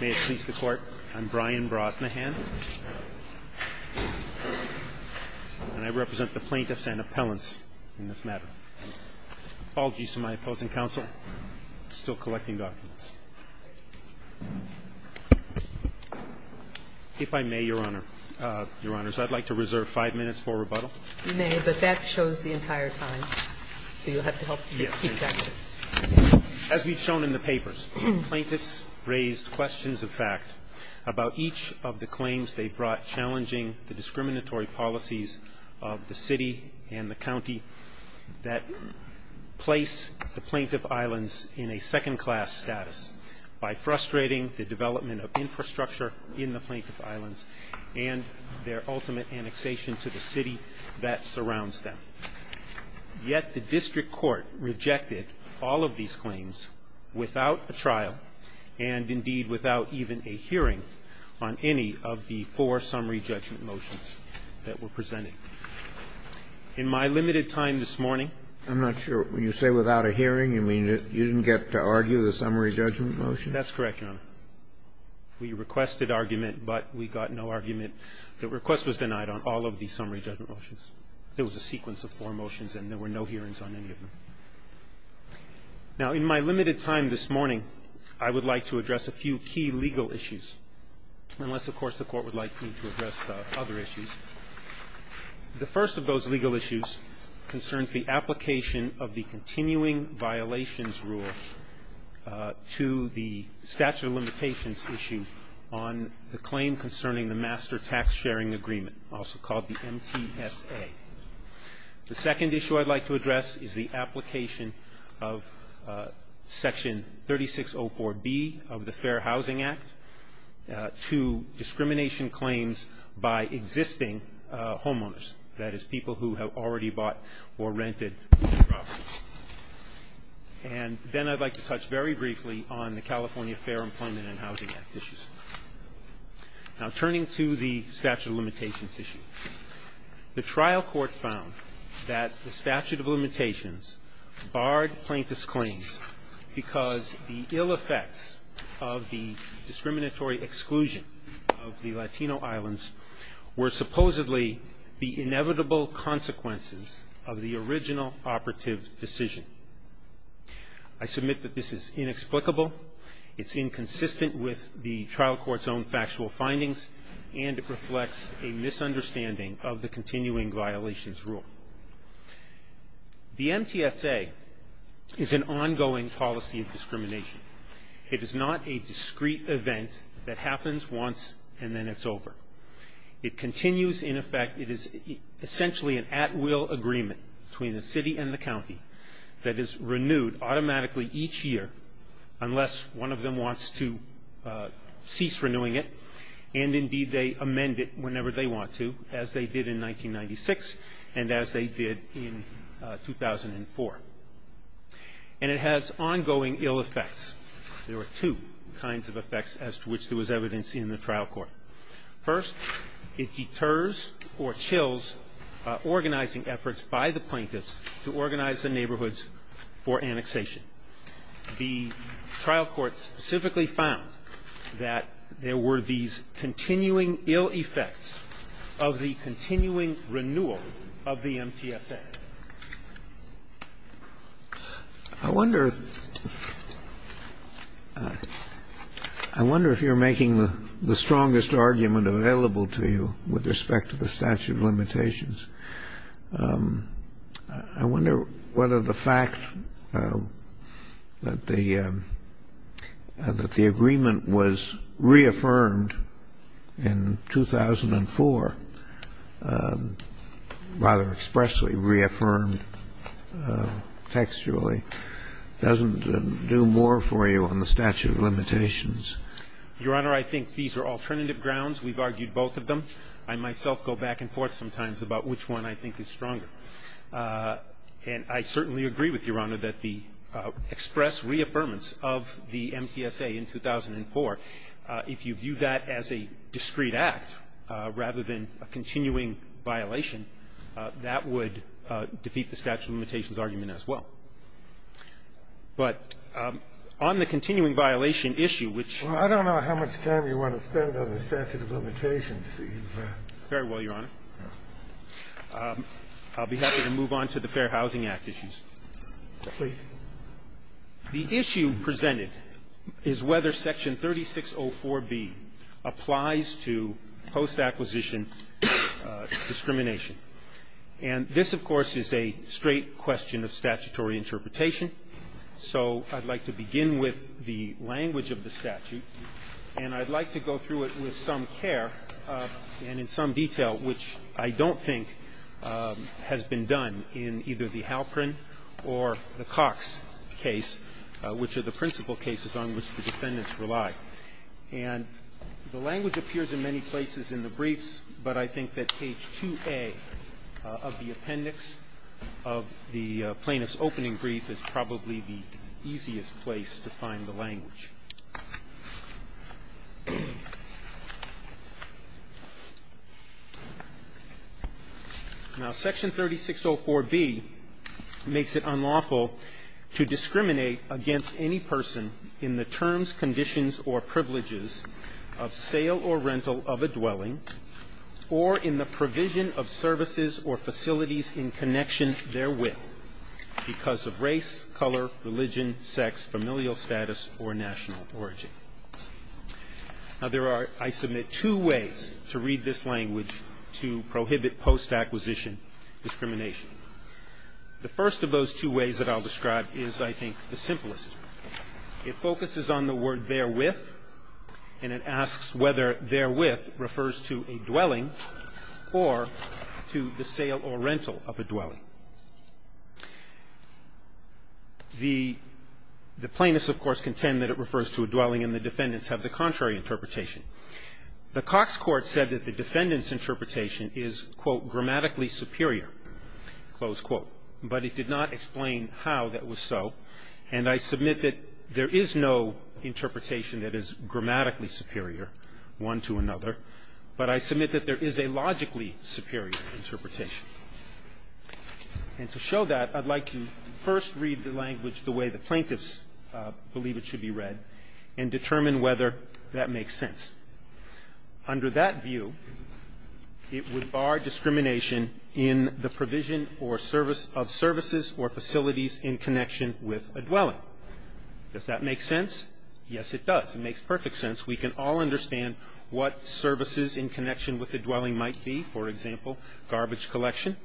May it please the Court, I'm Brian Brosnahan, and I represent the plaintiffs and appellants in this matter. Apologies to my opposing counsel, still collecting documents. If I may, Your Honors, I'd like to reserve five minutes for rebuttal. You may, but that shows the entire time, so you'll have to help keep track. As we've shown in the papers, plaintiffs raised questions of fact about each of the claims they brought challenging the discriminatory policies of the city and the county that place the plaintiff islands in a second-class status by frustrating the development of infrastructure in the plaintiff islands and their ultimate annexation to the city that surrounds them. Yet the district court rejected all of these claims without a trial and, indeed, without even a hearing on any of the four summary judgment motions that were presented. In my limited time this morning ---- I'm not sure. When you say without a hearing, you mean you didn't get to argue the summary judgment motion? That's correct, Your Honor. We requested argument, but we got no argument. The request was denied on all of the summary judgment motions. There was a sequence of four motions, and there were no hearings on any of them. Now, in my limited time this morning, I would like to address a few key legal issues, unless, of course, the Court would like me to address other issues. The first of those legal issues concerns the application of the continuing violations rule to the statute of limitations issue on the claim concerning the master tax-sharing agreement, also called the MTSA. The second issue I'd like to address is the application of Section 3604B of the Fair Housing Act to discrimination claims by existing homeowners, that is, people who have already bought or rented properties. And then I'd like to touch very briefly on the California Fair Employment and Housing Act issues. Now, turning to the statute of limitations issue, the trial court found that the statute of limitations barred plaintiff's claims because the ill effects of the discriminatory exclusion of the Latino islands were supposedly the inevitable consequences of the original operative decision. I submit that this is inexplicable. It's inconsistent with the trial court's own factual findings, and it reflects a misunderstanding of the continuing violations rule. The MTSA is an ongoing policy of discrimination. It is not a discrete event that happens once and then it's over. It continues in effect. It is essentially an at-will agreement between the city and the county that is renewed automatically each year unless one of them wants to cease renewing it, and indeed they amend it whenever they want to, as they did in 1996 and as they did in 2004. And it has ongoing ill effects. There are two kinds of effects as to which there was evidence in the trial court. First, it deters or chills organizing efforts by the plaintiffs to organize the neighborhoods for annexation. The trial court specifically found that there were these continuing ill effects of the continuing renewal of the MTSA. I wonder if you're making the strongest argument available to you with respect to the statute of limitations. I wonder whether the fact that the agreement was reaffirmed in 2004, rather expressly reaffirmed textually, doesn't do more for you on the statute of limitations. Your Honor, I think these are alternative grounds. We've argued both of them. I myself go back and forth sometimes about which one I think is stronger. And I certainly agree with Your Honor that the express reaffirmance of the MTSA in 2004, if you view that as a discreet act rather than a continuing violation, that would defeat the statute of limitations argument as well. But on the continuing violation issue, which you've got. I don't know how much time you want to spend on the statute of limitations. Very well, Your Honor. I'll be happy to move on to the Fair Housing Act issues. Please. The issue presented is whether Section 3604B applies to post-acquisition discrimination. And this, of course, is a straight question of statutory interpretation. So I'd like to begin with the language of the statute, and I'd like to go through it with some care and in some detail, which I don't think has been done in either the Halperin or the Cox case, which are the principal cases on which the defendants rely. And the language appears in many places in the briefs, but I think that page 2A of the appendix of the plaintiff's opening brief is probably the easiest place to find the language. Now, Section 3604B makes it unlawful to discriminate against any person in the terms, conditions, or privileges of sale or rental of a dwelling or in the provision of services or facilities in connection therewith because of race, color, religion, sex, familial status, or national origin. Now, there are, I submit, two ways to read this language to prohibit post-acquisition discrimination. The first of those two ways that I'll describe is, I think, the simplest. It focuses on the word therewith, and it asks whether therewith refers to a dwelling or to the sale or rental of a dwelling. The plaintiffs, of course, contend that it refers to a dwelling, and the defendants have the contrary interpretation. The Cox court said that the defendant's interpretation is, quote, grammatically superior, close quote. But it did not explain how that was so, and I submit that there is no interpretation that is grammatically superior one to another, but I submit that there is a logically superior interpretation. And to show that, I'd like to first read the language the way the plaintiffs believe it should be read and determine whether that makes sense. Under that view, it would bar discrimination in the provision of services or facilities in connection with a dwelling. Does that make sense? Yes, it does. It makes perfect sense. We can all understand what services in connection with a dwelling might be. For example, garbage collection.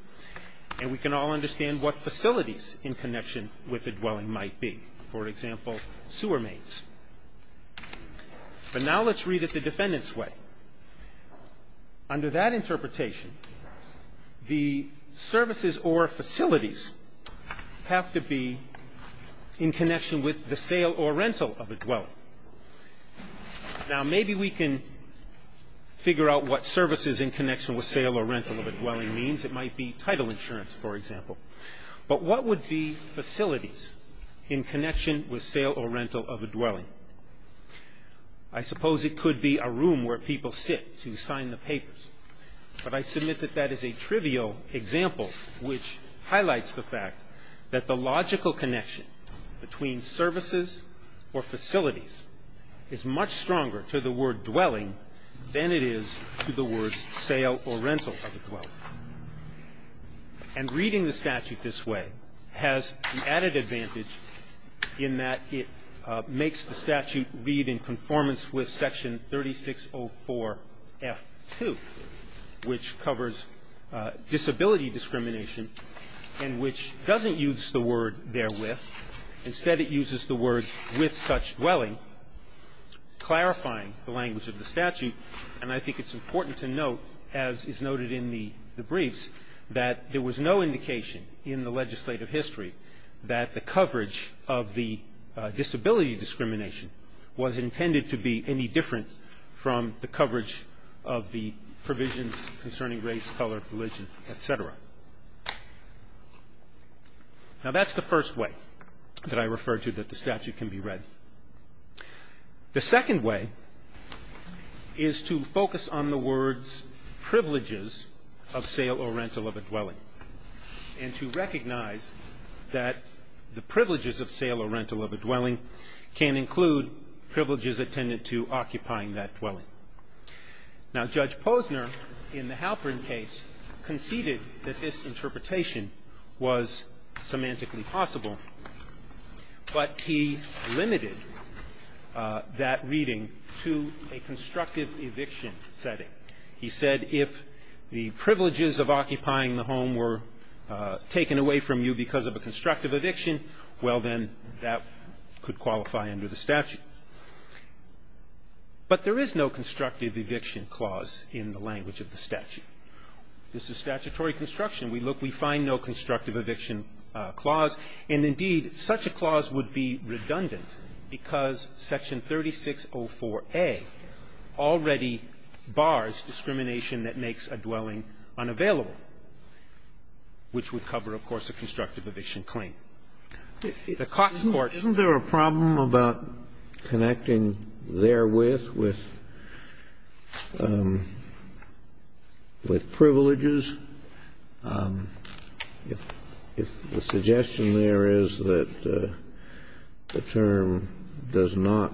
And we can all understand what facilities in connection with a dwelling might be. For example, sewer mains. But now let's read it the defendant's way. Under that interpretation, the services or facilities have to be in connection with the sale or rental of a dwelling. Now, maybe we can figure out what services in connection with sale or rental of a dwelling means. It might be title insurance, for example. But what would be facilities in connection with sale or rental of a dwelling? I suppose it could be a room where people sit to sign the papers. But I submit that that is a trivial example which highlights the fact that the logical connection between services or facilities is much stronger to the word dwelling than it is to the word sale or rental of a dwelling. And reading the statute this way has the added advantage in that it makes the statute read in conformance with Section 3604F2, which covers disability discrimination and which doesn't use the word therewith. Instead, it uses the word with such dwelling, clarifying the language of the statute. And I think it's important to note, as is noted in the briefs, that there was no indication in the legislative history that the coverage of the disability discrimination was intended to be any different from the coverage of the provisions concerning race, color, religion, et cetera. Now, that's the first way that I refer to that the statute can be read. The second way is to focus on the words privileges of sale or rental of a dwelling and to recognize that the privileges of sale or rental of a dwelling can include privileges attendant to occupying that dwelling. Now, Judge Posner in the Halperin case conceded that this interpretation was semantically possible, but he limited that reading to a constructive eviction setting. He said if the privileges of occupying the home were taken away from you because of a constructive eviction, well, then that could qualify under the statute. But there is no constructive eviction clause in the language of the statute. This is statutory construction. We look, we find no constructive eviction clause. And, indeed, such a clause would be redundant because Section 3604A already bars discrimination that makes a dwelling unavailable, which would cover, of course, a constructive eviction claim. The Cost Court ---- Kennedy. Isn't there a problem about connecting therewith with privileges? If the suggestion there is that the term does not,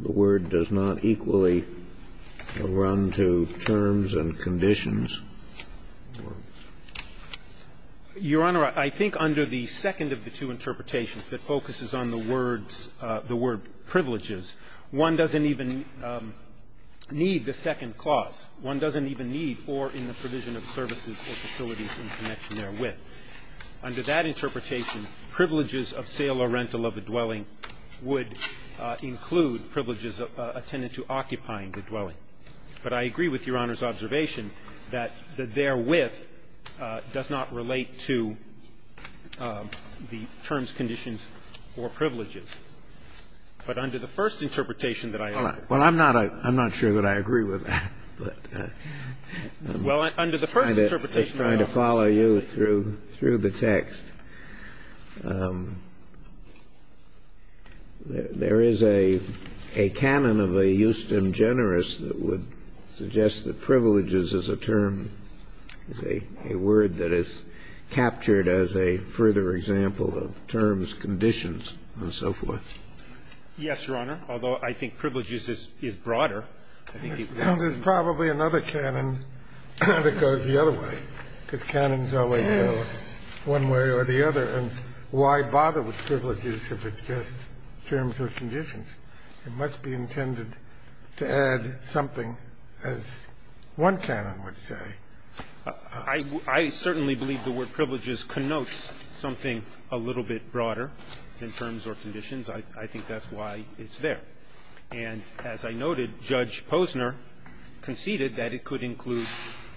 the word does not equally run to terms and conditions? Your Honor, I think under the second of the two interpretations that focuses on the words, the word privileges, one doesn't even need the second clause. One doesn't even need or in the provision of services or facilities in connection therewith. Under that interpretation, privileges of sale or rental of a dwelling would include privileges attendant to occupying the dwelling. But I agree with Your Honor's observation that the therewith does not relate to the terms, conditions, or privileges. But under the first interpretation that I heard ---- I agree with that. I'm just trying to follow you through the text. There is a canon of a Houston Generous that would suggest that privileges is a term, is a word that is captured as a further example of terms, conditions, and so forth. Yes, Your Honor. Although I think privileges is broader. There's probably another canon that goes the other way, because canons always go one way or the other. And why bother with privileges if it's just terms or conditions? It must be intended to add something, as one canon would say. I certainly believe the word privileges connotes something a little bit broader than terms or conditions. I think that's why it's there. And as I noted, Judge Posner conceded that it could include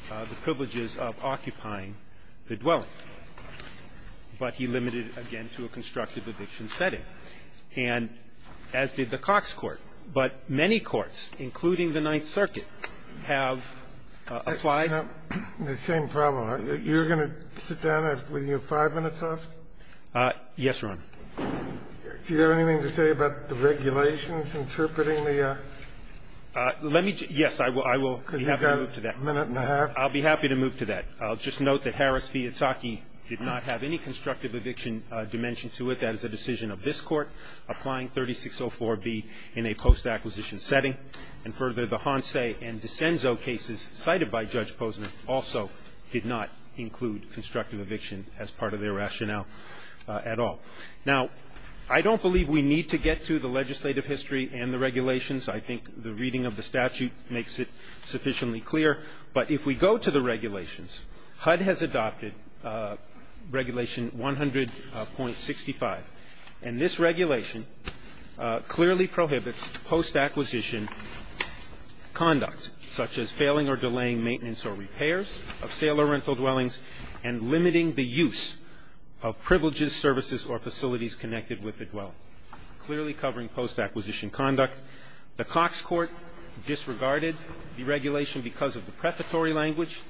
the privileges of occupying the dwelling. But he limited it, again, to a constructive eviction setting. And as did the Cox Court. But many courts, including the Ninth Circuit, have applied. The same problem. You're going to sit down with your five minutes off? Yes, Your Honor. Do you have anything to say about the regulations interpreting the ---- Let me just ---- Yes, I will. I will be happy to move to that. Because you've got a minute and a half. I'll be happy to move to that. I'll just note that Harris v. Itzhaki did not have any constructive eviction dimension to it. That is a decision of this Court, applying 3604B in a post-acquisition setting. And further, the Hanse and DiCenzo cases cited by Judge Posner also did not include constructive eviction as part of their rationale at all. Now, I don't believe we need to get to the legislative history and the regulations. I think the reading of the statute makes it sufficiently clear. But if we go to the regulations, HUD has adopted Regulation 100.65. And this regulation clearly prohibits post-acquisition conduct, such as failing or delaying maintenance or repairs of sale or rental dwellings, and limiting the use of privileges, services, or facilities connected with the dwelling, clearly covering post-acquisition conduct. The Cox Court disregarded the regulation because of the prefatory language.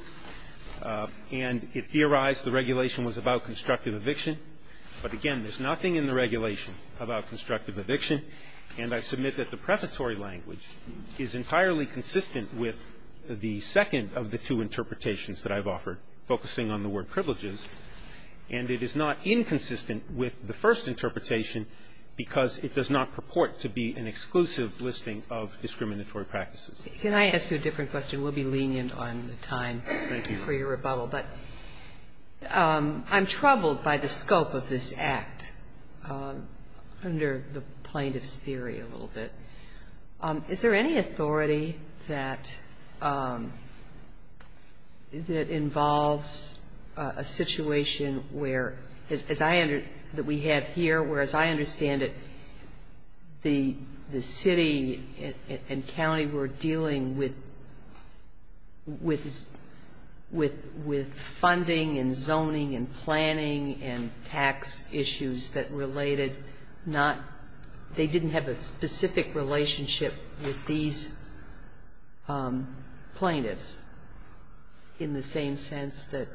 And it theorized the regulation was about constructive eviction. But again, there's nothing in the regulation about constructive eviction. And I submit that the prefatory language is entirely consistent with the second of the two interpretations that I've offered, focusing on the word privileges. And it is not inconsistent with the first interpretation because it does not purport to be an exclusive listing of discriminatory practices. Can I ask you a different question? We'll be lenient on time, thank you, for your rebuttal. But I'm troubled by the scope of this act, under the plaintiff's theory a little bit. Is there any authority that involves a situation where, as I under, that we have here, where, as I understand it, the city and county were dealing with funding and zoning and planning and tax issues that related not they didn't have a specific relationship with these plaintiffs, in the same sense that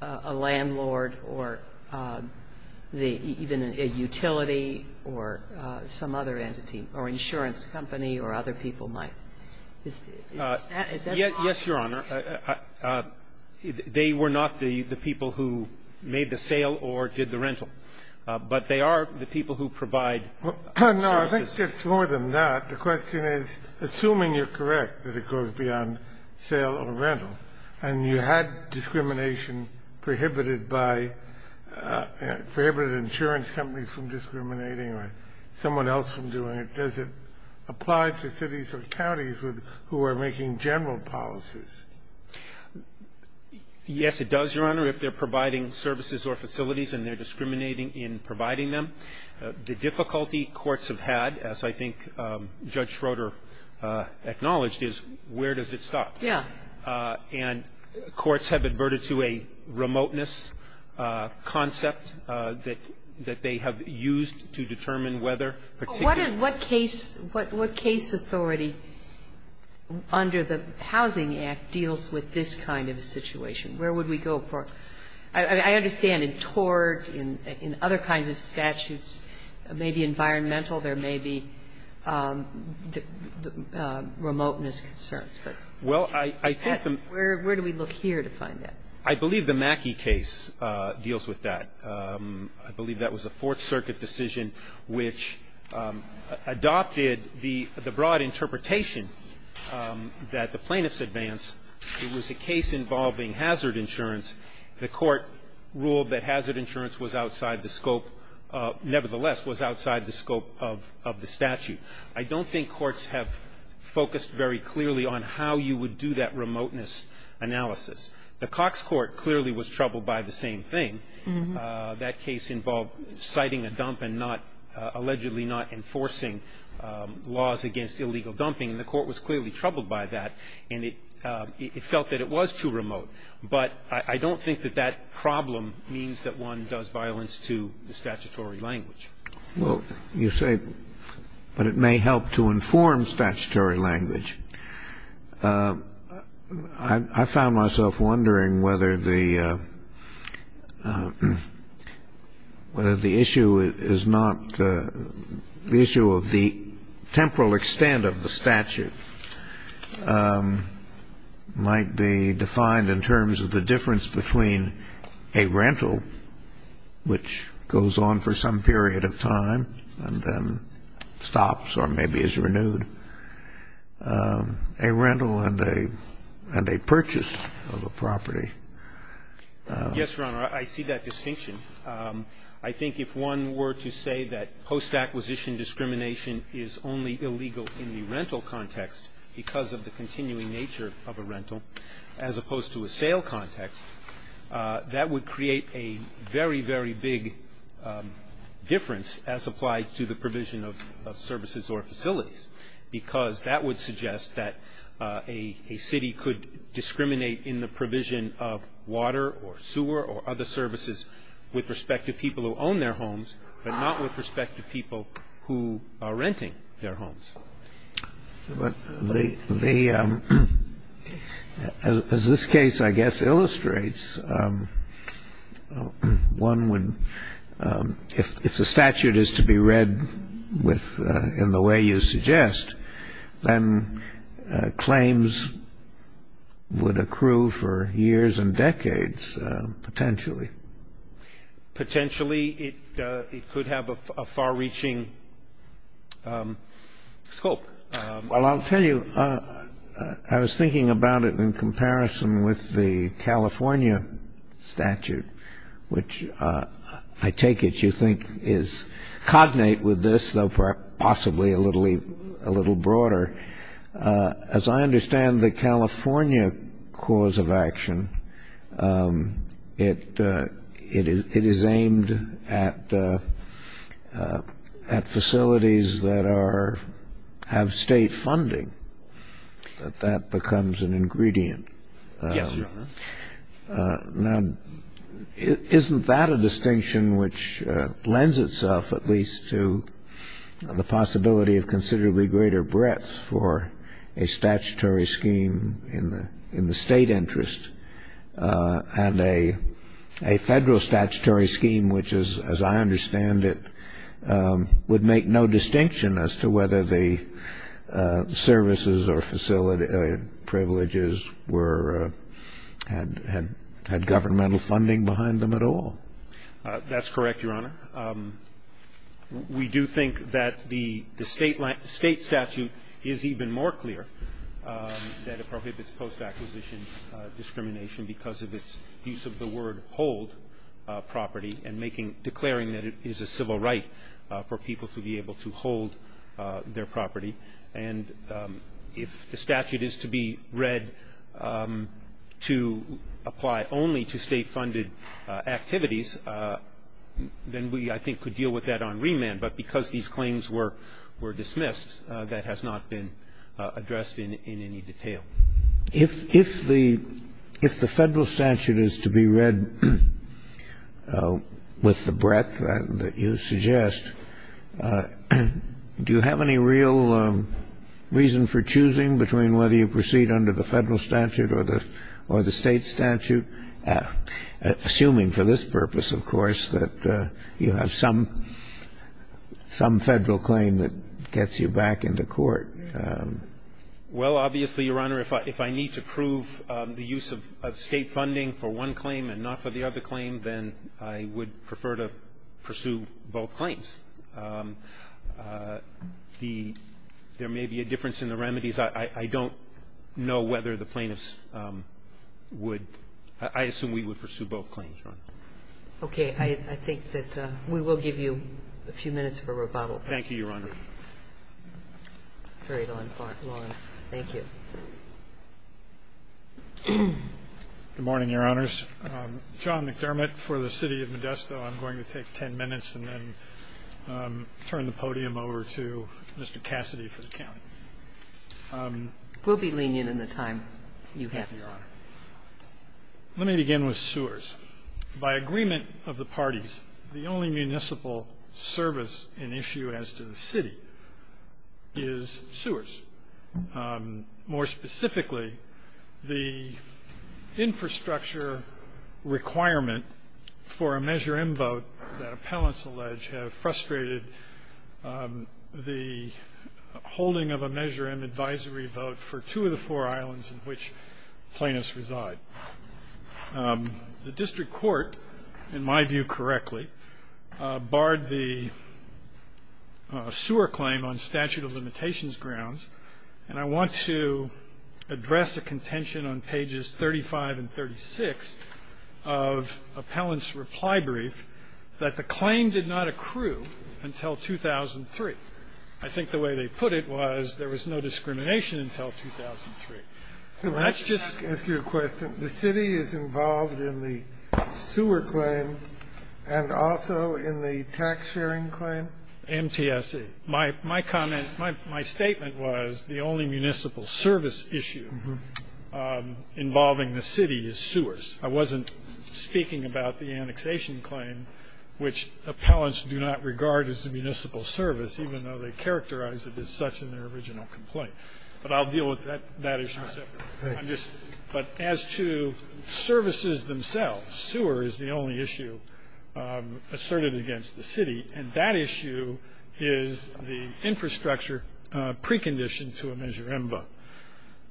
a landlord or even a utility or some other entity or insurance company or other people might? Is that possible? Yes, Your Honor. They were not the people who made the sale or did the rental. But they are the people who provide services. No, I think it's more than that. The question is, assuming you're correct that it goes beyond sale or rental, and you had discrimination prohibited by, prohibited insurance companies from discriminating or someone else from doing it, does it apply to cities or counties who are making general policies? Yes, it does, Your Honor, if they're providing services or facilities and they're The difficulty courts have had, as I think Judge Schroeder acknowledged, is where does it stop? Yeah. And courts have adverted to a remoteness concept that they have used to determine whether particular What case authority under the Housing Act deals with this kind of a situation? Where would we go for? I understand in tort, in other kinds of statutes, there may be environmental, there may be remoteness concerns. Well, I think the Where do we look here to find that? I believe the Mackey case deals with that. I believe that was a Fourth Circuit decision which adopted the broad interpretation that the plaintiffs advanced. It was a case involving hazard insurance. The court ruled that hazard insurance was outside the scope, nevertheless, was outside the scope of the statute. I don't think courts have focused very clearly on how you would do that remoteness analysis. The Cox Court clearly was troubled by the same thing. That case involved citing a dump and not, allegedly not enforcing laws against illegal dumping. And the court was clearly troubled by that. And it felt that it was too remote. But I don't think that that problem means that one does violence to the statutory language. Well, you say, but it may help to inform statutory language. I found myself wondering whether the issue is not the issue of the temporal extent of the statute might be defined in terms of the difference between a rental, which goes on for some period of time and then stops or maybe is renewed, a rental and a purchase of a property. Yes, Your Honor, I see that distinction. I think if one were to say that post-acquisition discrimination is only illegal in the rental context because of the continuing nature of a rental as opposed to a sale context, that would create a very, very big difference as applied to the provision of services or facilities, because that would suggest that a city could discriminate in the provision of water or sewer or other services with respect to people who own their homes but not with respect to people who are renting their homes. But the ‑‑ as this case, I guess, illustrates, one would ‑‑ if the statute is to be read with ‑‑ in the way you suggest, then claims would accrue for years and decades potentially. Potentially it could have a far‑reaching scope. Well, I'll tell you, I was thinking about it in comparison with the California statute, which I take it you think is cognate with this, though possibly a little broader. As I understand the California cause of action, it is aimed at facilities that have state funding, that that becomes an ingredient. Yes, Your Honor. Now, isn't that a distinction which lends itself at least to the possibility of considerably greater breadth for a statutory scheme in the state interest and a federal statutory scheme which is, as I understand it, would make no distinction as to whether the services or privileges were ‑‑ had governmental funding behind them at all? That's correct, Your Honor. We do think that the state statute is even more clear that it prohibits post acquisition discrimination because of its use of the word hold property and declaring that it is a civil right for people to be able to hold their property. And if the statute is to be read to apply only to state funded activities, then we, I think, could deal with that on remand. But because these claims were dismissed, that has not been addressed in any detail. If the federal statute is to be read with the breadth that you suggest, do you have any real reason for choosing between whether you proceed under the federal statute or the state statute, assuming for this purpose, of course, that you have some federal claim that gets you back into court? Well, obviously, Your Honor, if I need to prove the use of state funding for one claim and not for the other claim, then I would prefer to pursue both claims. There may be a difference in the remedies. I don't know whether the plaintiffs would – I assume we would pursue both claims, Your Honor. Okay. I think that we will give you a few minutes for rebuttal. Thank you, Your Honor. Very long. Thank you. Good morning, Your Honors. John McDermott for the city of Modesto. So I'm going to take 10 minutes and then turn the podium over to Mr. Cassidy for the county. We'll be leaning in the time you have, Your Honor. Let me begin with sewers. By agreement of the parties, the only municipal service and issue as to the city is sewers. More specifically, the infrastructure requirement for a Measure M vote that appellants allege have frustrated the holding of a Measure M advisory vote for two of the four islands in which plaintiffs reside. The district court, in my view correctly, barred the sewer claim on statute of limitations, and I want to address a contention on pages 35 and 36 of appellants' reply brief that the claim did not accrue until 2003. I think the way they put it was there was no discrimination until 2003. So let's just ask you a question. The city is involved in the sewer claim and also in the tax-sharing claim? MTSC. My comment, my statement was the only municipal service issue involving the city is sewers. I wasn't speaking about the annexation claim, which appellants do not regard as a municipal service, even though they characterize it as such in their original complaint. But I'll deal with that issue separately. But as to services themselves, sewer is the only issue asserted against the city, and that issue is the infrastructure precondition to a Measure M vote.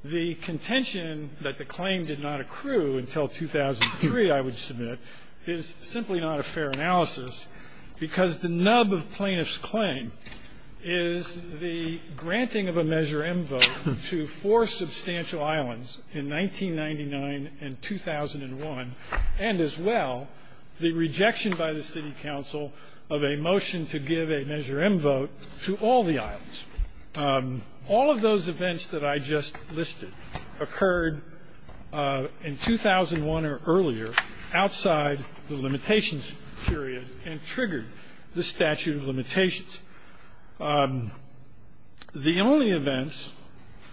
The contention that the claim did not accrue until 2003, I would submit, is simply not a fair analysis, because the nub of plaintiffs' claim is the granting of a Measure M vote to four substantial islands in 1999 and 2001, and as well the rejection by the city council of a motion to give a Measure M vote to all the islands. All of those events that I just listed occurred in 2001 or earlier outside the limitations period and triggered the statute of limitations. The only events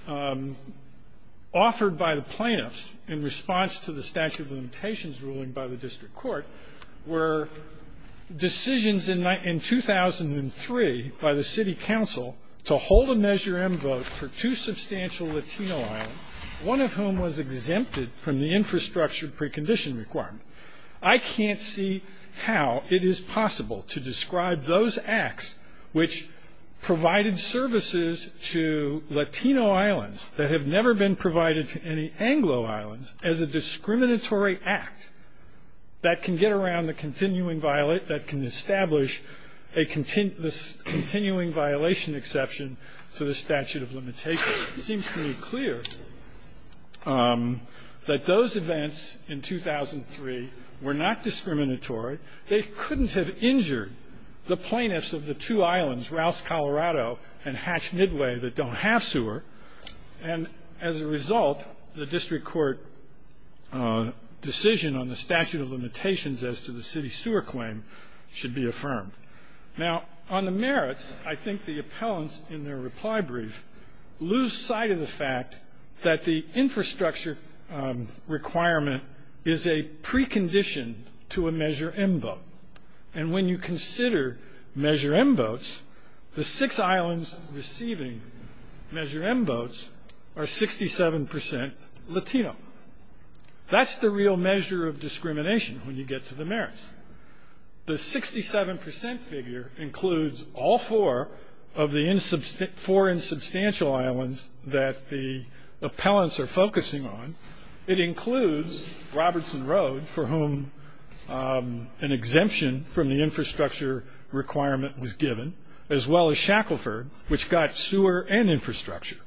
offered by the plaintiffs in response to the statute of limitations ruling by the district court were decisions in 2003 by the city council to hold a Measure M vote for two substantial Latino islands, one of whom was exempted from the infrastructure precondition requirement. I can't see how it is possible to describe those acts which provided services to Latino islands that have never been provided to any Anglo islands as a discriminatory act that can get around the continuing violation, that can establish a continuing violation exception to the statute of limitations. It seems to me clear that those events in 2003 were not discriminatory. They couldn't have injured the plaintiffs of the two islands, Rouse, Colorado, and Hatch, Midway, that don't have sewer. And as a result, the district court decision on the statute of limitations as to the city sewer claim should be affirmed. Now, on the merits, I think the appellants in their reply brief lose sight of the fact that the infrastructure requirement is a precondition to a Measure M vote. And when you consider Measure M votes, the six islands receiving Measure M votes are 67% Latino. That's the real measure of discrimination when you get to the merits. The 67% figure includes all four of the four insubstantial islands that the appellants are focusing on. It includes Robertson Road, for whom an exemption from the infrastructure requirement was given, as well as Shackleford, which got sewer and infrastructure.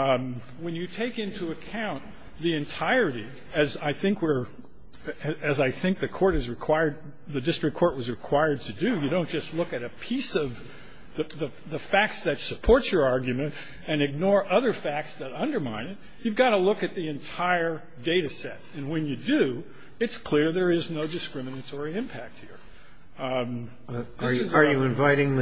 When you take into account the entirety, as I think we're – as I think the court has required – the district court was required to do, you don't just look at a piece of the facts that support your argument and ignore other facts that undermine it. You've got to look at the entire data set. And when you do, it's clear there is no discriminatory impact here. This is not the case. Kennedy. Are you inviting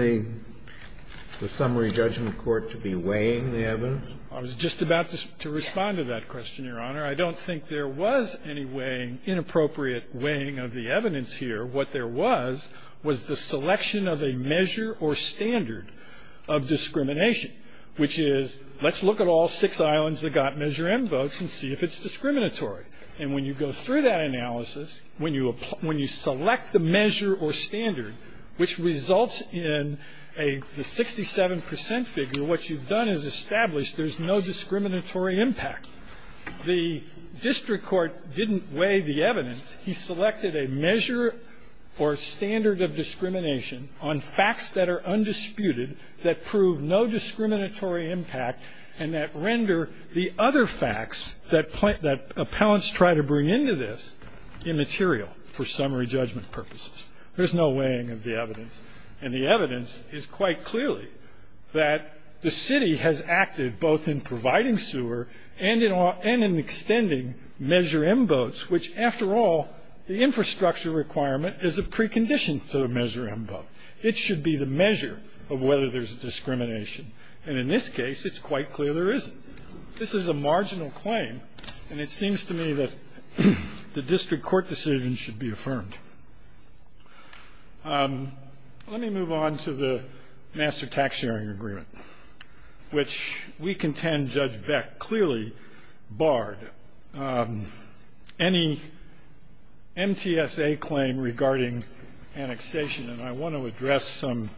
the summary judgment court to be weighing the evidence? I was just about to respond to that question, Your Honor. I don't think there was any weighing, inappropriate weighing of the evidence here. What there was was the selection of a measure or standard of discrimination, which is let's look at all six islands that got Measure M votes and see if it's discriminatory. And when you go through that analysis, when you – when you select the measure or standard, which results in a – the 67 percent figure, what you've done is established there's no discriminatory impact. The district court didn't weigh the evidence. He selected a measure or standard of discrimination on facts that are undisputed that prove no discriminatory impact and that render the other facts that appellants try to bring into this immaterial for summary judgment purposes. There's no weighing of the evidence. And the evidence is quite clearly that the city has acted both in providing sewer and in extending Measure M votes, which, after all, the infrastructure requirement is a precondition to the Measure M vote. It should be the measure of whether there's discrimination. And in this case, it's quite clear there isn't. This is a marginal claim, and it seems to me that the district court decision should be affirmed. Let me move on to the master tax sharing agreement, which we contend Judge Beck clearly barred any MTSA claim regarding annexation. And I want to address some,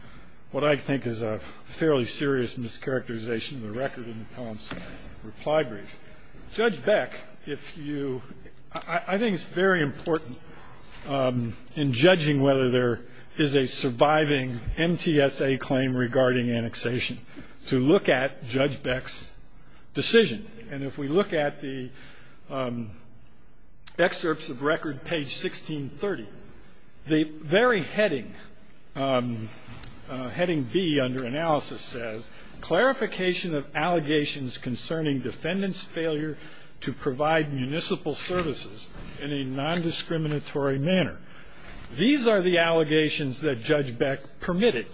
what I think is a fairly serious mischaracterization of the record in the poem's reply brief. Judge Beck, if you ‑‑ I think it's very important in judging whether there is a surviving MTSA claim regarding annexation to look at Judge Beck's decision. And if we look at the excerpts of record page 1630, the very heading, heading B under analysis says, Clarification of allegations concerning defendant's failure to provide municipal services in a nondiscriminatory manner. These are the allegations that Judge Beck permitted.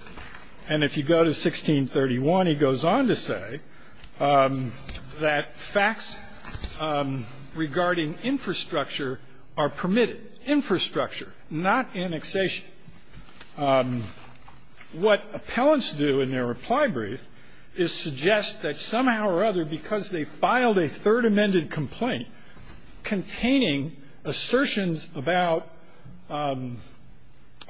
And if you go to 1631, he goes on to say that facts regarding infrastructure are permitted, infrastructure, not annexation. What appellants do in their reply brief is suggest that somehow or other, because they filed a third amended complaint containing assertions about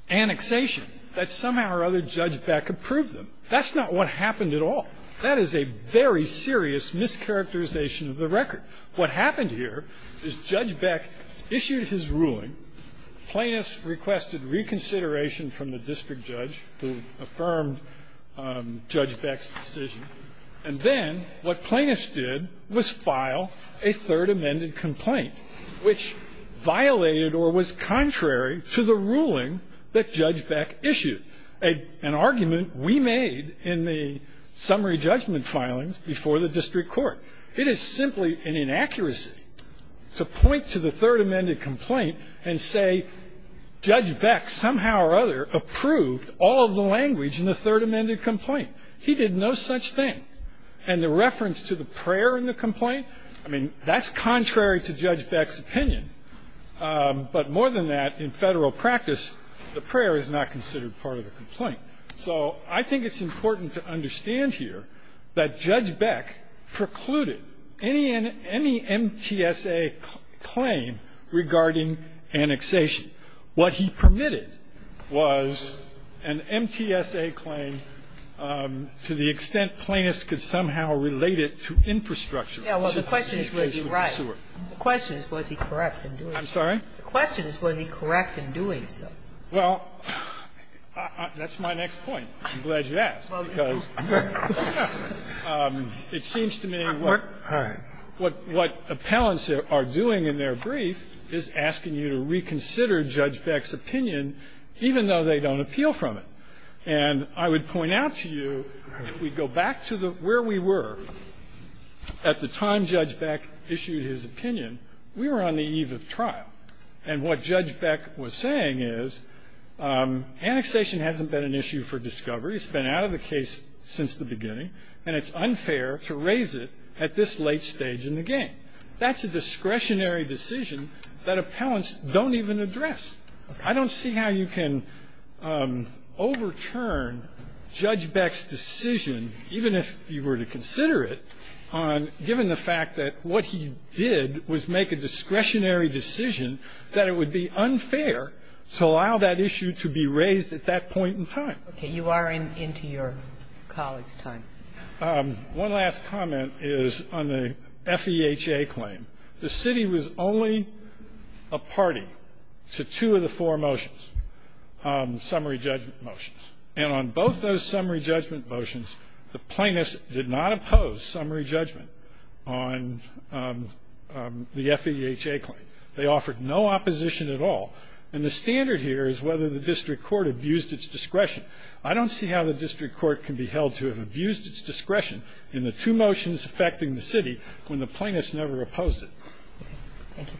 annexation, that somehow or other Judge Beck approved them. That's not what happened at all. That is a very serious mischaracterization of the record. What happened here is Judge Beck issued his ruling. Plaintiffs requested reconsideration from the district judge who affirmed Judge Beck's decision. And then what plaintiffs did was file a third amended complaint, which violated or was contrary to the ruling that Judge Beck issued, an argument we made in the summary judgment filings before the district court. It is simply an inaccuracy to point to the third amended complaint and say Judge Beck somehow or other approved all of the language in the third amended complaint. He did no such thing. And the reference to the prayer in the complaint, I mean, that's contrary to Judge Beck's argument. But more than that, in Federal practice, the prayer is not considered part of the complaint. So I think it's important to understand here that Judge Beck precluded any MTSA claim regarding annexation. What he permitted was an MTSA claim to the extent plaintiffs could somehow relate it to infrastructure. Sotomayor, the question is, was he right? The question is, was he correct in doing so? I'm sorry? The question is, was he correct in doing so? Well, that's my next point. I'm glad you asked, because it seems to me what appellants are doing in their brief is asking you to reconsider Judge Beck's opinion, even though they don't appeal from it. And I would point out to you, if we go back to where we were at the time Judge Beck issued his opinion, we were on the eve of trial. And what Judge Beck was saying is annexation hasn't been an issue for discovery. It's been out of the case since the beginning. And it's unfair to raise it at this late stage in the game. That's a discretionary decision that appellants don't even address. I don't see how you can overturn Judge Beck's decision, even if you were to consider it, on, given the fact that what he did was make a discretionary decision, that it would be unfair to allow that issue to be raised at that point in time. Okay. You are into your colleague's time. One last comment is on the FEHA claim. The city was only a party to two of the four motions, summary judgment motions. And on both those summary judgment motions, the plaintiffs did not oppose summary judgment on the FEHA claim. They offered no opposition at all. And the standard here is whether the district court abused its discretion. I don't see how the district court can be held to have abused its discretion in the two motions affecting the city when the plaintiffs never opposed it. Thank you.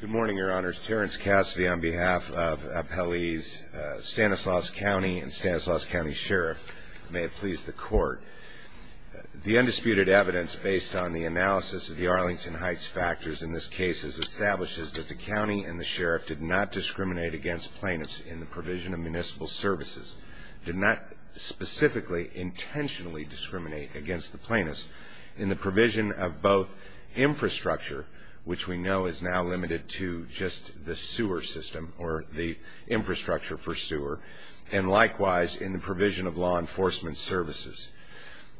Good morning, Your Honors. Terrence Cassidy on behalf of Appellees Stanislaus County and Stanislaus County Sheriff. May it please the Court. The undisputed evidence based on the analysis of the Arlington Heights factors in this case establishes that the county and the sheriff did not discriminate against plaintiffs in the provision of municipal services, did not specifically intentionally discriminate against the plaintiffs in the provision of both infrastructure, which we know is now limited to just the sewer system or the infrastructure for sewer, and likewise in the provision of law enforcement services.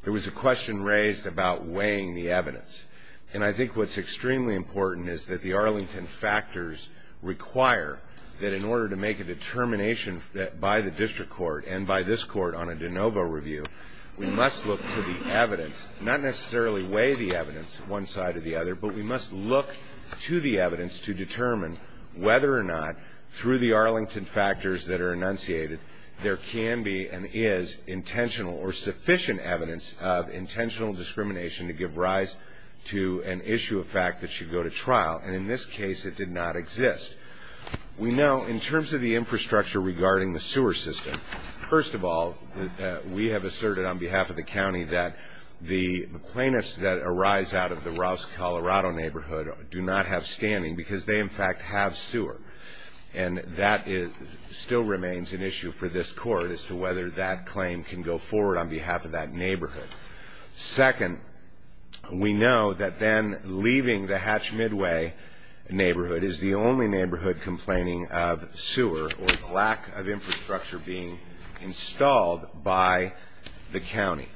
There was a question raised about weighing the evidence. And I think what's extremely important is that the Arlington factors require that in order to make a determination by the district court and by this court on a de novo review, we must look to the evidence, not necessarily weigh the evidence one side or the other, but we must look to the evidence to determine whether or not through the Arlington factors that are enunciated there can be and is intentional or sufficient evidence of intentional discrimination to give rise to an issue of fact that should go to trial. And in this case, it did not exist. We know in terms of the infrastructure regarding the sewer system, first of all, we have asserted on behalf of the county that the plaintiffs that arise out of the Rouse, Colorado neighborhood do not have standing because they, in fact, have sewer. And that still remains an issue for this court as to whether that claim can go forward on behalf of that neighborhood. Second, we know that then leaving the Hatch Midway neighborhood is the only neighborhood complaining of sewer or lack of infrastructure being installed by the county.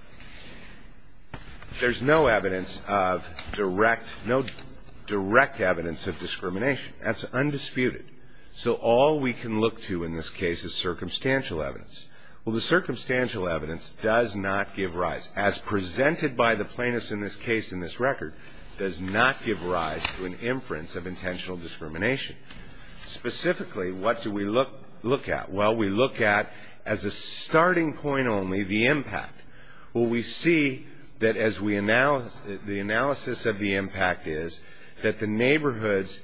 There's no evidence of direct, no direct evidence of discrimination. That's undisputed. So all we can look to in this case is circumstantial evidence. Well, the circumstantial evidence does not give rise, as presented by the plaintiffs in this case in this record, does not give rise to an inference of intentional discrimination. Specifically, what do we look at? Well, we look at, as a starting point only, the impact. Well, we see that as we analyze, the analysis of the impact is that the neighborhoods,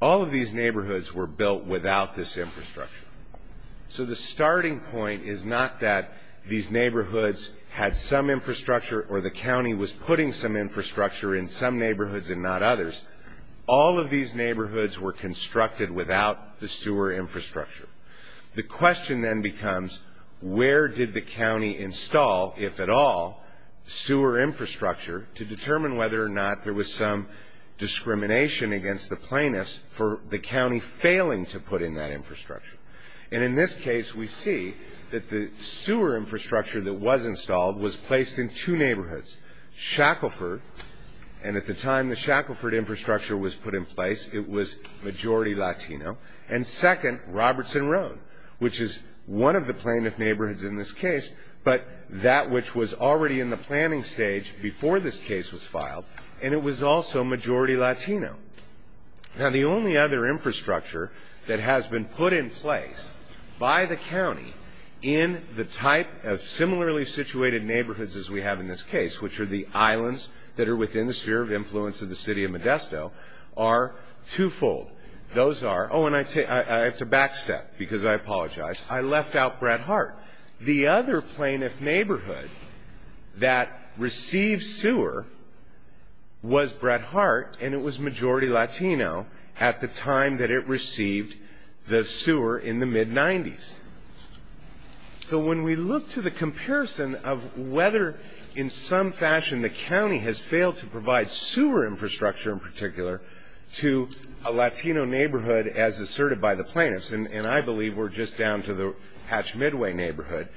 all of these neighborhoods were built without this infrastructure. So the starting point is not that these neighborhoods had some infrastructure or the county was putting some infrastructure in some neighborhoods and not others. All of these neighborhoods were constructed without the sewer infrastructure. The question then becomes where did the county install, if at all, sewer infrastructure to determine whether or not there was some discrimination against the plaintiffs for the county failing to put in that infrastructure. And in this case, we see that the sewer infrastructure that was installed was placed in two neighborhoods. Shackleford, and at the time the Shackleford infrastructure was put in place, it was majority Latino. And second, Robertson Road, which is one of the plaintiff neighborhoods in this case, but that which was already in the planning stage before this case was filed, and it was also majority Latino. Now, the only other infrastructure that has been put in place by the county in the type of similarly situated neighborhoods as we have in this case, which are the islands that are within the sphere of influence of the city of Modesto, are twofold. Those are, oh, and I have to back step because I apologize. I left out Brett Hart. The other plaintiff neighborhood that received sewer was Brett Hart, and it was majority Latino at the time that it received the sewer in the mid-'90s. So when we look to the comparison of whether in some fashion the county has failed to provide sewer infrastructure in particular to a Latino neighborhood as asserted by the plaintiffs, and I believe we're just down to the Hatch-Midway neighborhood,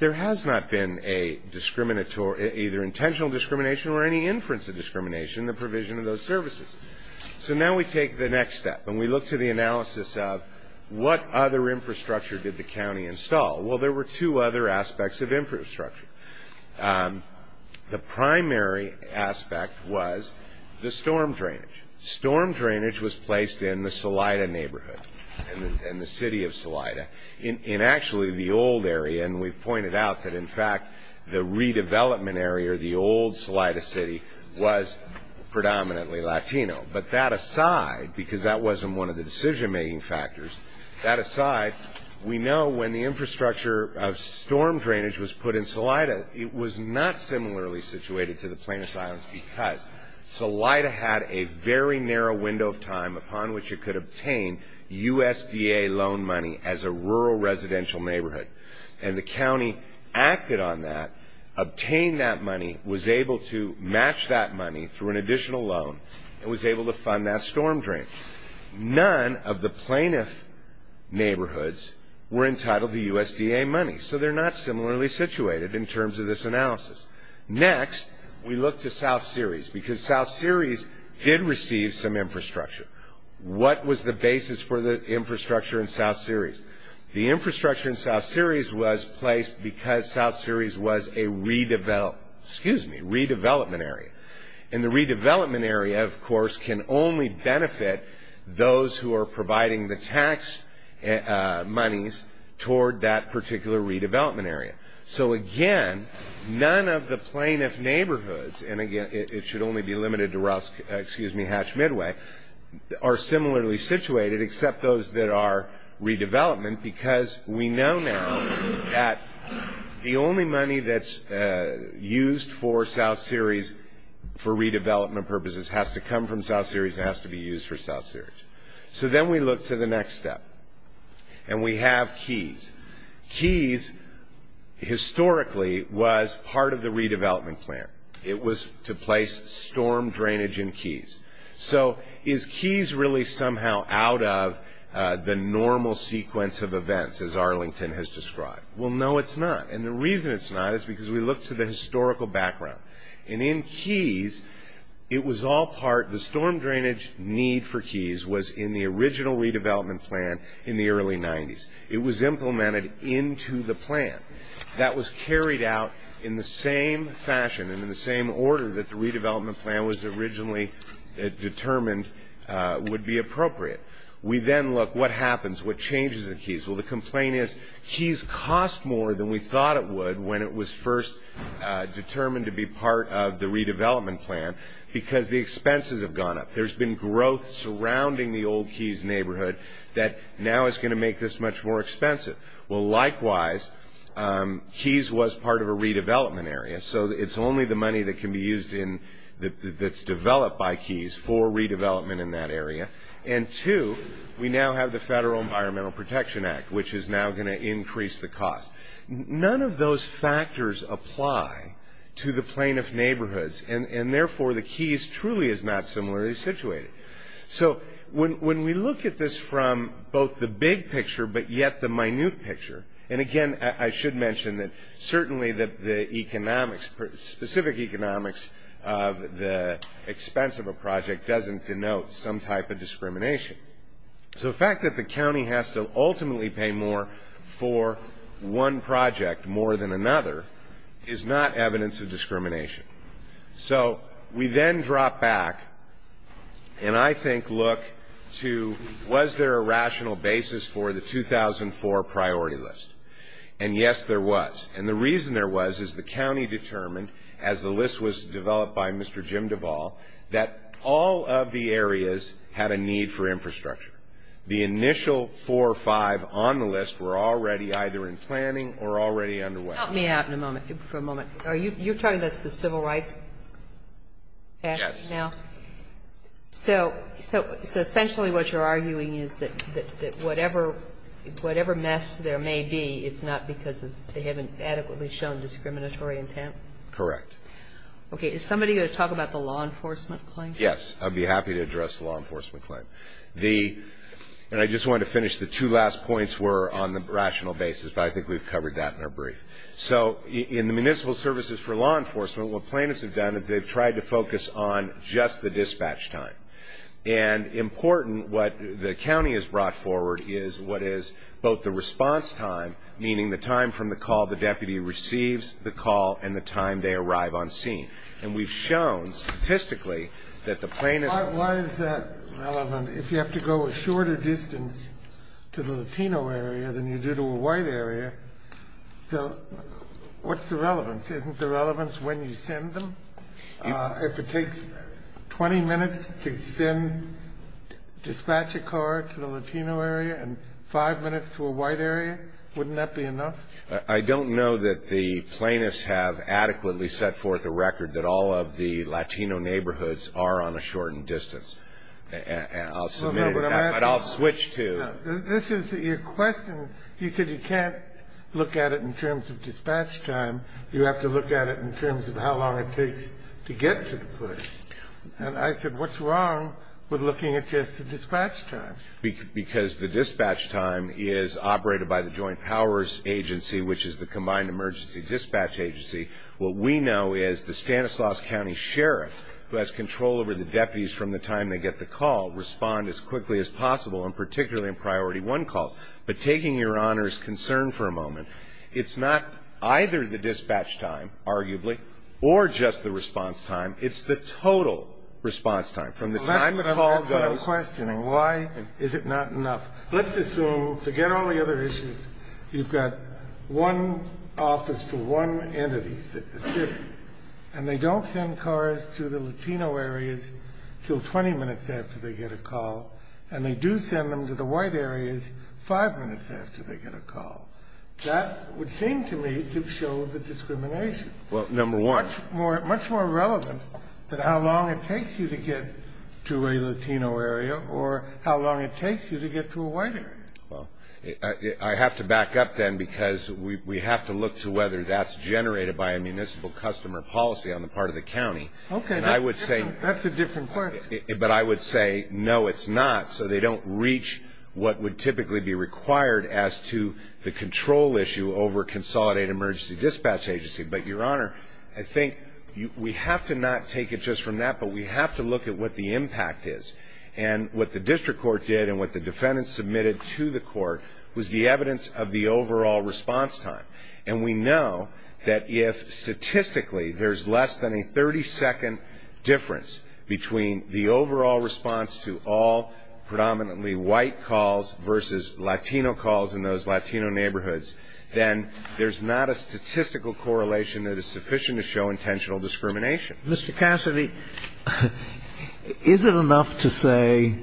there has not been either intentional discrimination or any inference of discrimination in the provision of those services. So now we take the next step, and we look to the analysis of what other infrastructure did the county install. Well, there were two other aspects of infrastructure. The primary aspect was the storm drainage. Storm drainage was placed in the Salida neighborhood, in the city of Salida, in actually the old area, and we've pointed out that, in fact, the redevelopment area, the old Salida city, was predominantly Latino. But that aside, because that wasn't one of the decision-making factors, that aside, we know when the infrastructure of storm drainage was put in Salida, it was not similarly situated to the plaintiff's islands because Salida had a very narrow window of time upon which it could obtain USDA loan money as a rural residential neighborhood, and the county acted on that, obtained that money, was able to match that money through an additional loan, and was able to fund that storm drainage. None of the plaintiff neighborhoods were entitled to USDA money, so they're not similarly situated in terms of this analysis. Next, we look to South Ceres because South Ceres did receive some infrastructure. What was the basis for the infrastructure in South Ceres? The infrastructure in South Ceres was placed because South Ceres was a redevelopment area, and the redevelopment area, of course, can only benefit those who are providing the tax monies toward that particular redevelopment area. So again, none of the plaintiff neighborhoods, and again, it should only be limited to Hatch Midway, are similarly situated except those that are redevelopment because we know now that the only money that's used for South Ceres for redevelopment purposes has to come from South Ceres and has to be used for South Ceres. So then we look to the next step, and we have Keys. Keys, historically, was part of the redevelopment plan. It was to place storm drainage in Keys. So is Keys really somehow out of the normal sequence of events, as Arlington has described? Well, no, it's not, and the reason it's not is because we look to the historical background. And in Keys, it was all part of the storm drainage need for Keys was in the original redevelopment plan in the early 90s. It was implemented into the plan. That was carried out in the same fashion and in the same order that the redevelopment plan was originally determined would be appropriate. We then look what happens, what changes in Keys. Well, the complaint is Keys cost more than we thought it would when it was first determined to be part of the redevelopment plan because the expenses have gone up. There's been growth surrounding the old Keys neighborhood that now is going to make this much more expensive. Well, likewise, Keys was part of a redevelopment area, so it's only the money that can be used in that's developed by Keys for redevelopment in that area. And two, we now have the Federal Environmental Protection Act, which is now going to increase the cost. None of those factors apply to the plaintiff's neighborhoods, and therefore the Keys truly is not similarly situated. So when we look at this from both the big picture but yet the minute picture, and again, I should mention that certainly the economics, specific economics of the expense of a project doesn't denote some type of discrimination. So the fact that the county has to ultimately pay more for one project more than another is not evidence of discrimination. So we then drop back and I think look to was there a rational basis for the 2004 priority list, and yes, there was. And the reason there was is the county determined, as the list was developed by Mr. Jim Duvall, that all of the areas had a need for infrastructure. The initial four or five on the list were already either in planning or already underway. Help me out for a moment. You're talking about the Civil Rights Act now? Yes. So essentially what you're arguing is that whatever mess there may be, it's not because they haven't adequately shown discriminatory intent? Correct. Okay. Is somebody going to talk about the law enforcement claim? Yes. I'd be happy to address the law enforcement claim. And I just wanted to finish the two last points were on the rational basis, but I think we've covered that in our brief. So in the municipal services for law enforcement, what plaintiffs have done is they've tried to focus on just the dispatch time. And important, what the county has brought forward is what is both the response time, meaning the time from the call the deputy receives, the call, and the time they arrive on scene. And we've shown statistically that the plaintiffs are. Why is that relevant if you have to go a shorter distance to the Latino area than you do to a white area? So what's the relevance? Isn't the relevance when you send them? If it takes 20 minutes to dispatch a car to the Latino area and five minutes to a white area, wouldn't that be enough? I don't know that the plaintiffs have adequately set forth a record that all of the Latino neighborhoods are on a shortened distance. I'll submit it, but I'll switch to. This is your question. You said you can't look at it in terms of dispatch time. You have to look at it in terms of how long it takes to get to the place. And I said what's wrong with looking at just the dispatch time? Because the dispatch time is operated by the Joint Powers Agency, which is the combined emergency dispatch agency. What we know is the Stanislaus County Sheriff, who has control over the deputies from the time they get the call, respond as quickly as possible, and particularly in priority one calls. But taking Your Honor's concern for a moment, it's not either the dispatch time, arguably, or just the response time. It's the total response time from the time the call goes. I'm questioning. Why is it not enough? Let's assume, forget all the other issues, you've got one office for one entity in the city, and they don't send cars to the Latino areas until 20 minutes after they get a call, and they do send them to the white areas five minutes after they get a call. That would seem to me to show the discrimination. Well, number one. Much more relevant than how long it takes you to get to a Latino area or how long it takes you to get to a white area. Well, I have to back up then, because we have to look to whether that's generated by a municipal customer policy on the part of the county. Okay, that's a different question. But I would say, no, it's not. So they don't reach what would typically be required as to the control issue over a consolidated emergency dispatch agency. But, Your Honor, I think we have to not take it just from that, but we have to look at what the impact is. And what the district court did and what the defendants submitted to the court was the evidence of the overall response time. And we know that if statistically there's less than a 30-second difference between the overall response to all predominantly white calls versus Latino calls in those Latino neighborhoods, then there's not a statistical correlation that is sufficient to show intentional discrimination. Mr. Cassidy, is it enough to say,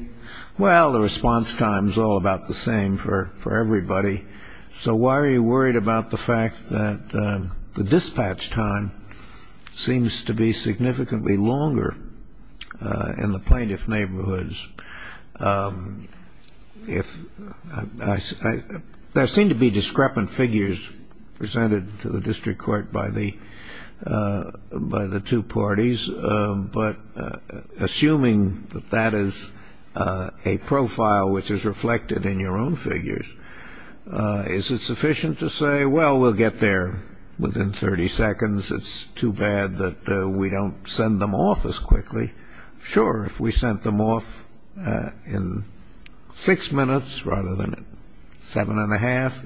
well, the response time is all about the same for everybody, so why are you worried about the fact that the dispatch time seems to be significantly longer in the plaintiff neighborhoods? There seem to be discrepant figures presented to the district court by the two parties, but assuming that that is a profile which is reflected in your own figures, is it sufficient to say, well, we'll get there within 30 seconds, it's too bad that we don't send them off as quickly? Sure, if we sent them off in six minutes rather than seven and a half,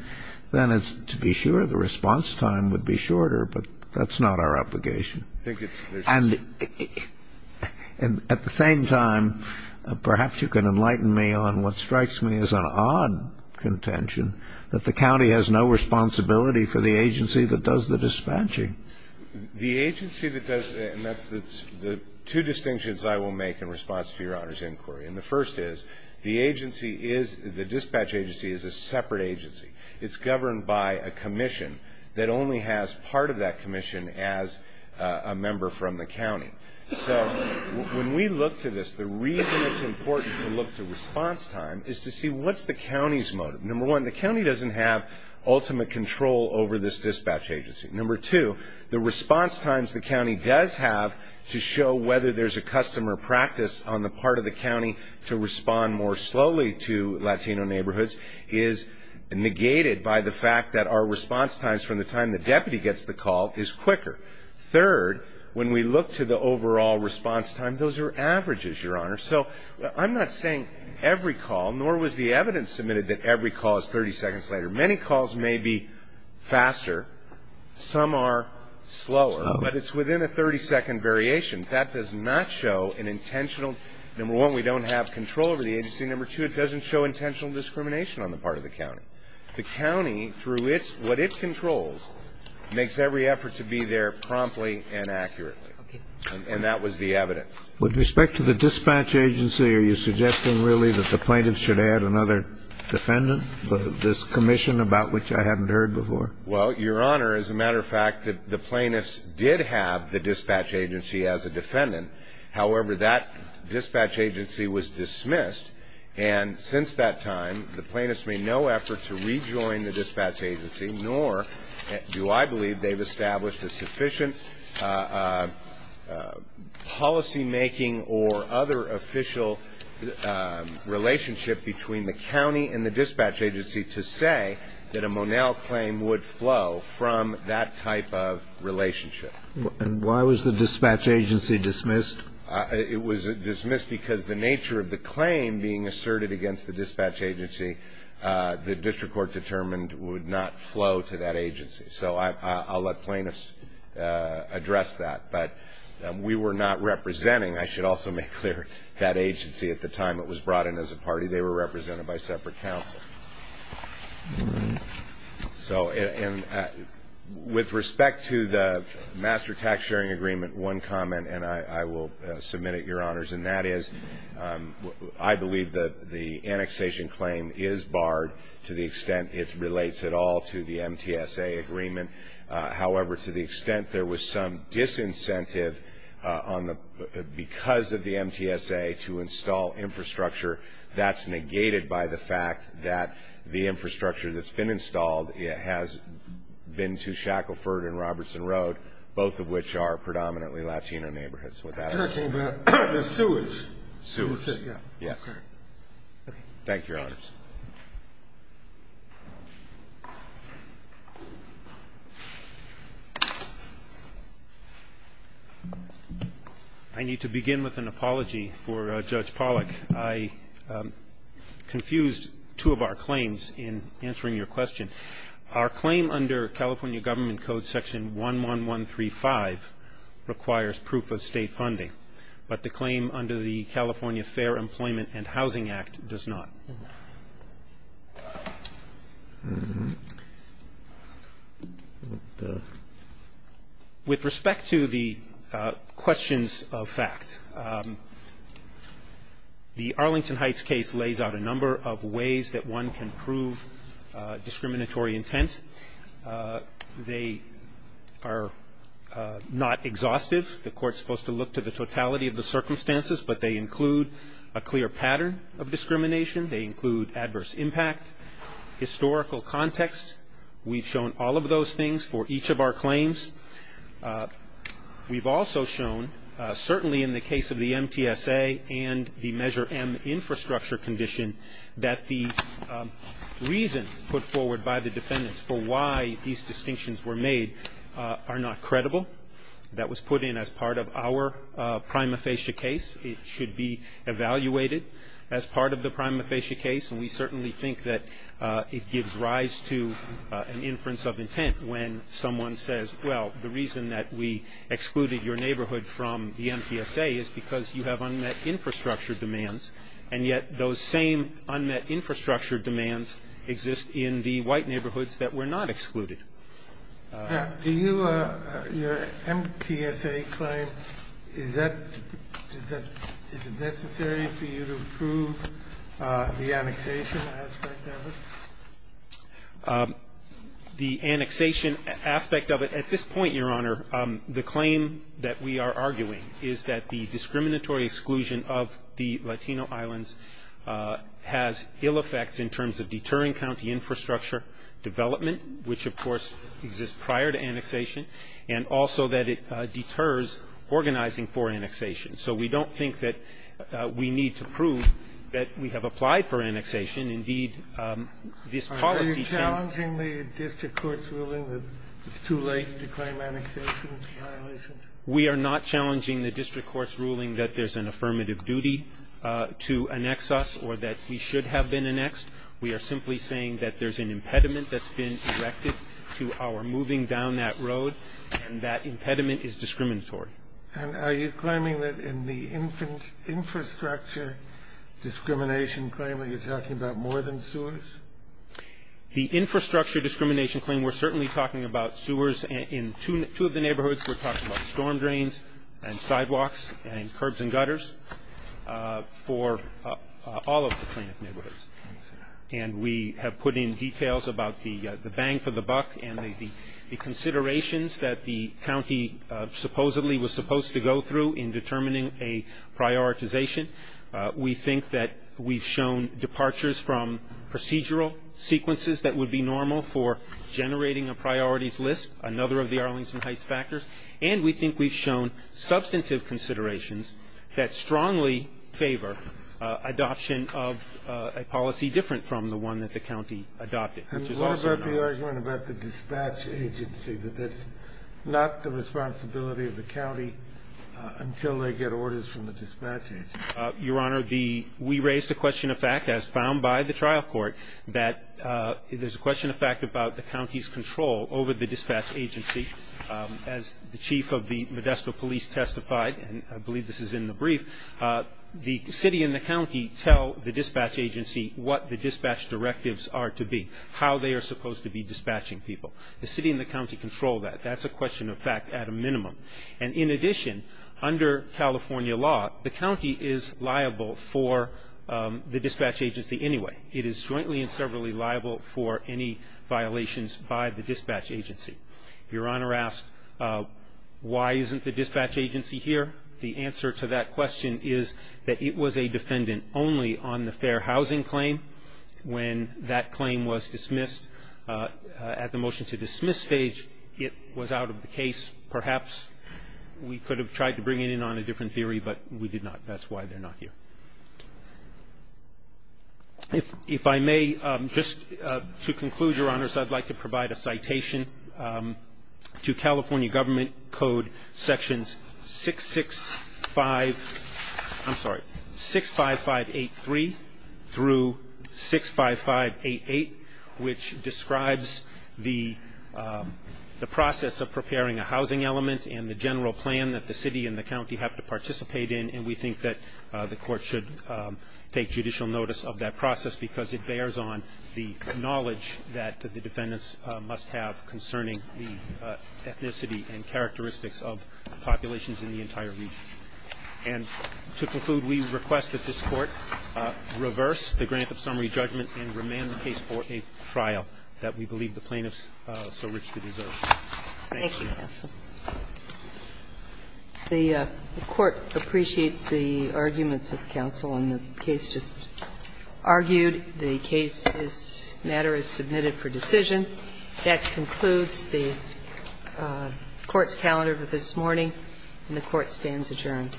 then to be sure the response time would be shorter, but that's not our obligation. And at the same time, perhaps you can enlighten me on what strikes me as an odd contention, that the county has no responsibility for the agency that does the dispatching. The agency that does, and that's the two distinctions I will make in response to Your Honor's inquiry, and the first is the agency is, the dispatch agency is a separate agency. It's governed by a commission that only has part of that commission as a member from the county. So when we look to this, the reason it's important to look to response time is to see what's the county's motive. Number one, the county doesn't have ultimate control over this dispatch agency. Number two, the response times the county does have to show whether there's a customer practice on the part of the county to respond more slowly to Latino neighborhoods is negated by the fact that our response times from the time the deputy gets the call is quicker. Third, when we look to the overall response time, those are averages, Your Honor. So I'm not saying every call, nor was the evidence submitted that every call is 30 seconds later. Many calls may be faster. Some are slower, but it's within a 30-second variation. That does not show an intentional. Number one, we don't have control over the agency. Number two, it doesn't show intentional discrimination on the part of the county. The county, through what it controls, makes every effort to be there promptly and accurately. Okay. And that was the evidence. With respect to the dispatch agency, are you suggesting really that the plaintiffs should add another defendant, this commission, about which I haven't heard before? Well, Your Honor, as a matter of fact, the plaintiffs did have the dispatch agency as a defendant. However, that dispatch agency was dismissed, and since that time, the plaintiffs made no effort to rejoin the dispatch agency, nor do I believe they've established a sufficient policymaking or other official relationship between the county and the dispatch agency to say that a Monell claim would flow from that type of relationship. And why was the dispatch agency dismissed? It was dismissed because the nature of the claim being asserted against the dispatch agency, the district court determined would not flow to that agency. So I'll let plaintiffs address that. But we were not representing, I should also make clear, that agency at the time it was brought in as a party. They were represented by separate counsel. So with respect to the master tax sharing agreement, one comment, and I will submit it, Your Honors, and that is I believe that the annexation claim is barred to the extent it relates at all to the MTSA agreement. However, to the extent there was some disincentive because of the MTSA to install infrastructure, that's negated by the fact that the infrastructure that's been installed has been to Shackleford and Robertson Road, both of which are predominantly Latino neighborhoods. And that's all about the sewage? Sewage, yes. Okay. Thank you, Your Honors. I need to begin with an apology for Judge Pollack. I confused two of our claims in answering your question. Our claim under California Government Code Section 11135 requires proof of state funding, but the claim under the California Fair Employment and Housing Act does not. With respect to the questions of fact, the Arlington Heights case lays out a number of ways that one can prove discriminatory intent. They are not exhaustive. The Court's supposed to look to the totality of the circumstances, but they include a clear pattern of discrimination. They include adverse impact, historical context. We've shown all of those things for each of our claims. We've also shown, certainly in the case of the MTSA and the Measure M infrastructure condition, that the reason put forward by the defendants for why these distinctions were made are not credible. That was put in as part of our prima facie case. It should be evaluated as part of the prima facie case, and we certainly think that it gives rise to an inference of intent when someone says, well, the reason that we excluded your neighborhood from the MTSA is because you have unmet infrastructure demands, and yet those same unmet infrastructure demands exist in the white neighborhoods that were not excluded. Do you, your MTSA claim, is that, is it necessary for you to prove the annexation aspect of it? The annexation aspect of it, at this point, Your Honor, the claim that we are arguing is that the discriminatory exclusion of the Latino islands has ill effects in terms of deterring county infrastructure development, which, of course, exists prior to annexation, and also that it deters organizing for annexation. So we don't think that we need to prove that we have applied for annexation. Indeed, this policy change ---- Are you challenging the district court's ruling that it's too late to claim annexation as a violation? We are not challenging the district court's ruling that there's an affirmative duty to annex us or that we should have been annexed. We are simply saying that there's an impediment that's been erected to our moving down that road, and that impediment is discriminatory. And are you claiming that in the infrastructure discrimination claim, are you talking about more than sewers? The infrastructure discrimination claim, we're certainly talking about sewers. In two of the neighborhoods, we're talking about storm drains and sidewalks and curbs and gutters for all of the plaintiff neighborhoods. And we have put in details about the bang for the buck and the considerations that the county supposedly was supposed to go through in determining a prioritization. We think that we've shown departures from procedural sequences that would be normal for generating a priorities list, another of the Arlington Heights factors. And we think we've shown substantive considerations that strongly favor adoption of a policy different from the one that the county adopted. And what about the argument about the dispatch agency, that that's not the responsibility of the county until they get orders from the dispatch agency? Your Honor, we raised a question of fact, as found by the trial court, that there's a question of fact about the county's control over the dispatch agency. As the chief of the Modesto police testified, and I believe this is in the brief, the city and the county tell the dispatch agency what the dispatch directives are to be, how they are supposed to be dispatching people. The city and the county control that. That's a question of fact at a minimum. And in addition, under California law, the county is liable for the dispatch agency anyway. It is jointly and severally liable for any violations by the dispatch agency. Your Honor asked, why isn't the dispatch agency here? The answer to that question is that it was a defendant only on the fair housing claim. When that claim was dismissed at the motion to dismiss stage, it was out of the case. Perhaps we could have tried to bring it in on a different theory, but we did not. That's why they're not here. If I may, just to conclude, Your Honors, I'd like to provide a citation to California Government Code sections 665, I'm sorry, 65583 through 65588, which describes the process of preparing a housing element and the general plan that the city and the county have to participate in. And we think that the Court should take judicial notice of that process because it bears on the knowledge that the defendants must have concerning the ethnicity and characteristics of populations in the entire region. And to conclude, we request that this Court reverse the grant of summary judgment and remand the case for a trial that we believe the plaintiffs so richly deserve. Thank you. Thank you, counsel. The Court appreciates the arguments of counsel, and the case just argued. The case matter is submitted for decision. That concludes the Court's calendar for this morning, and the Court stands adjourned.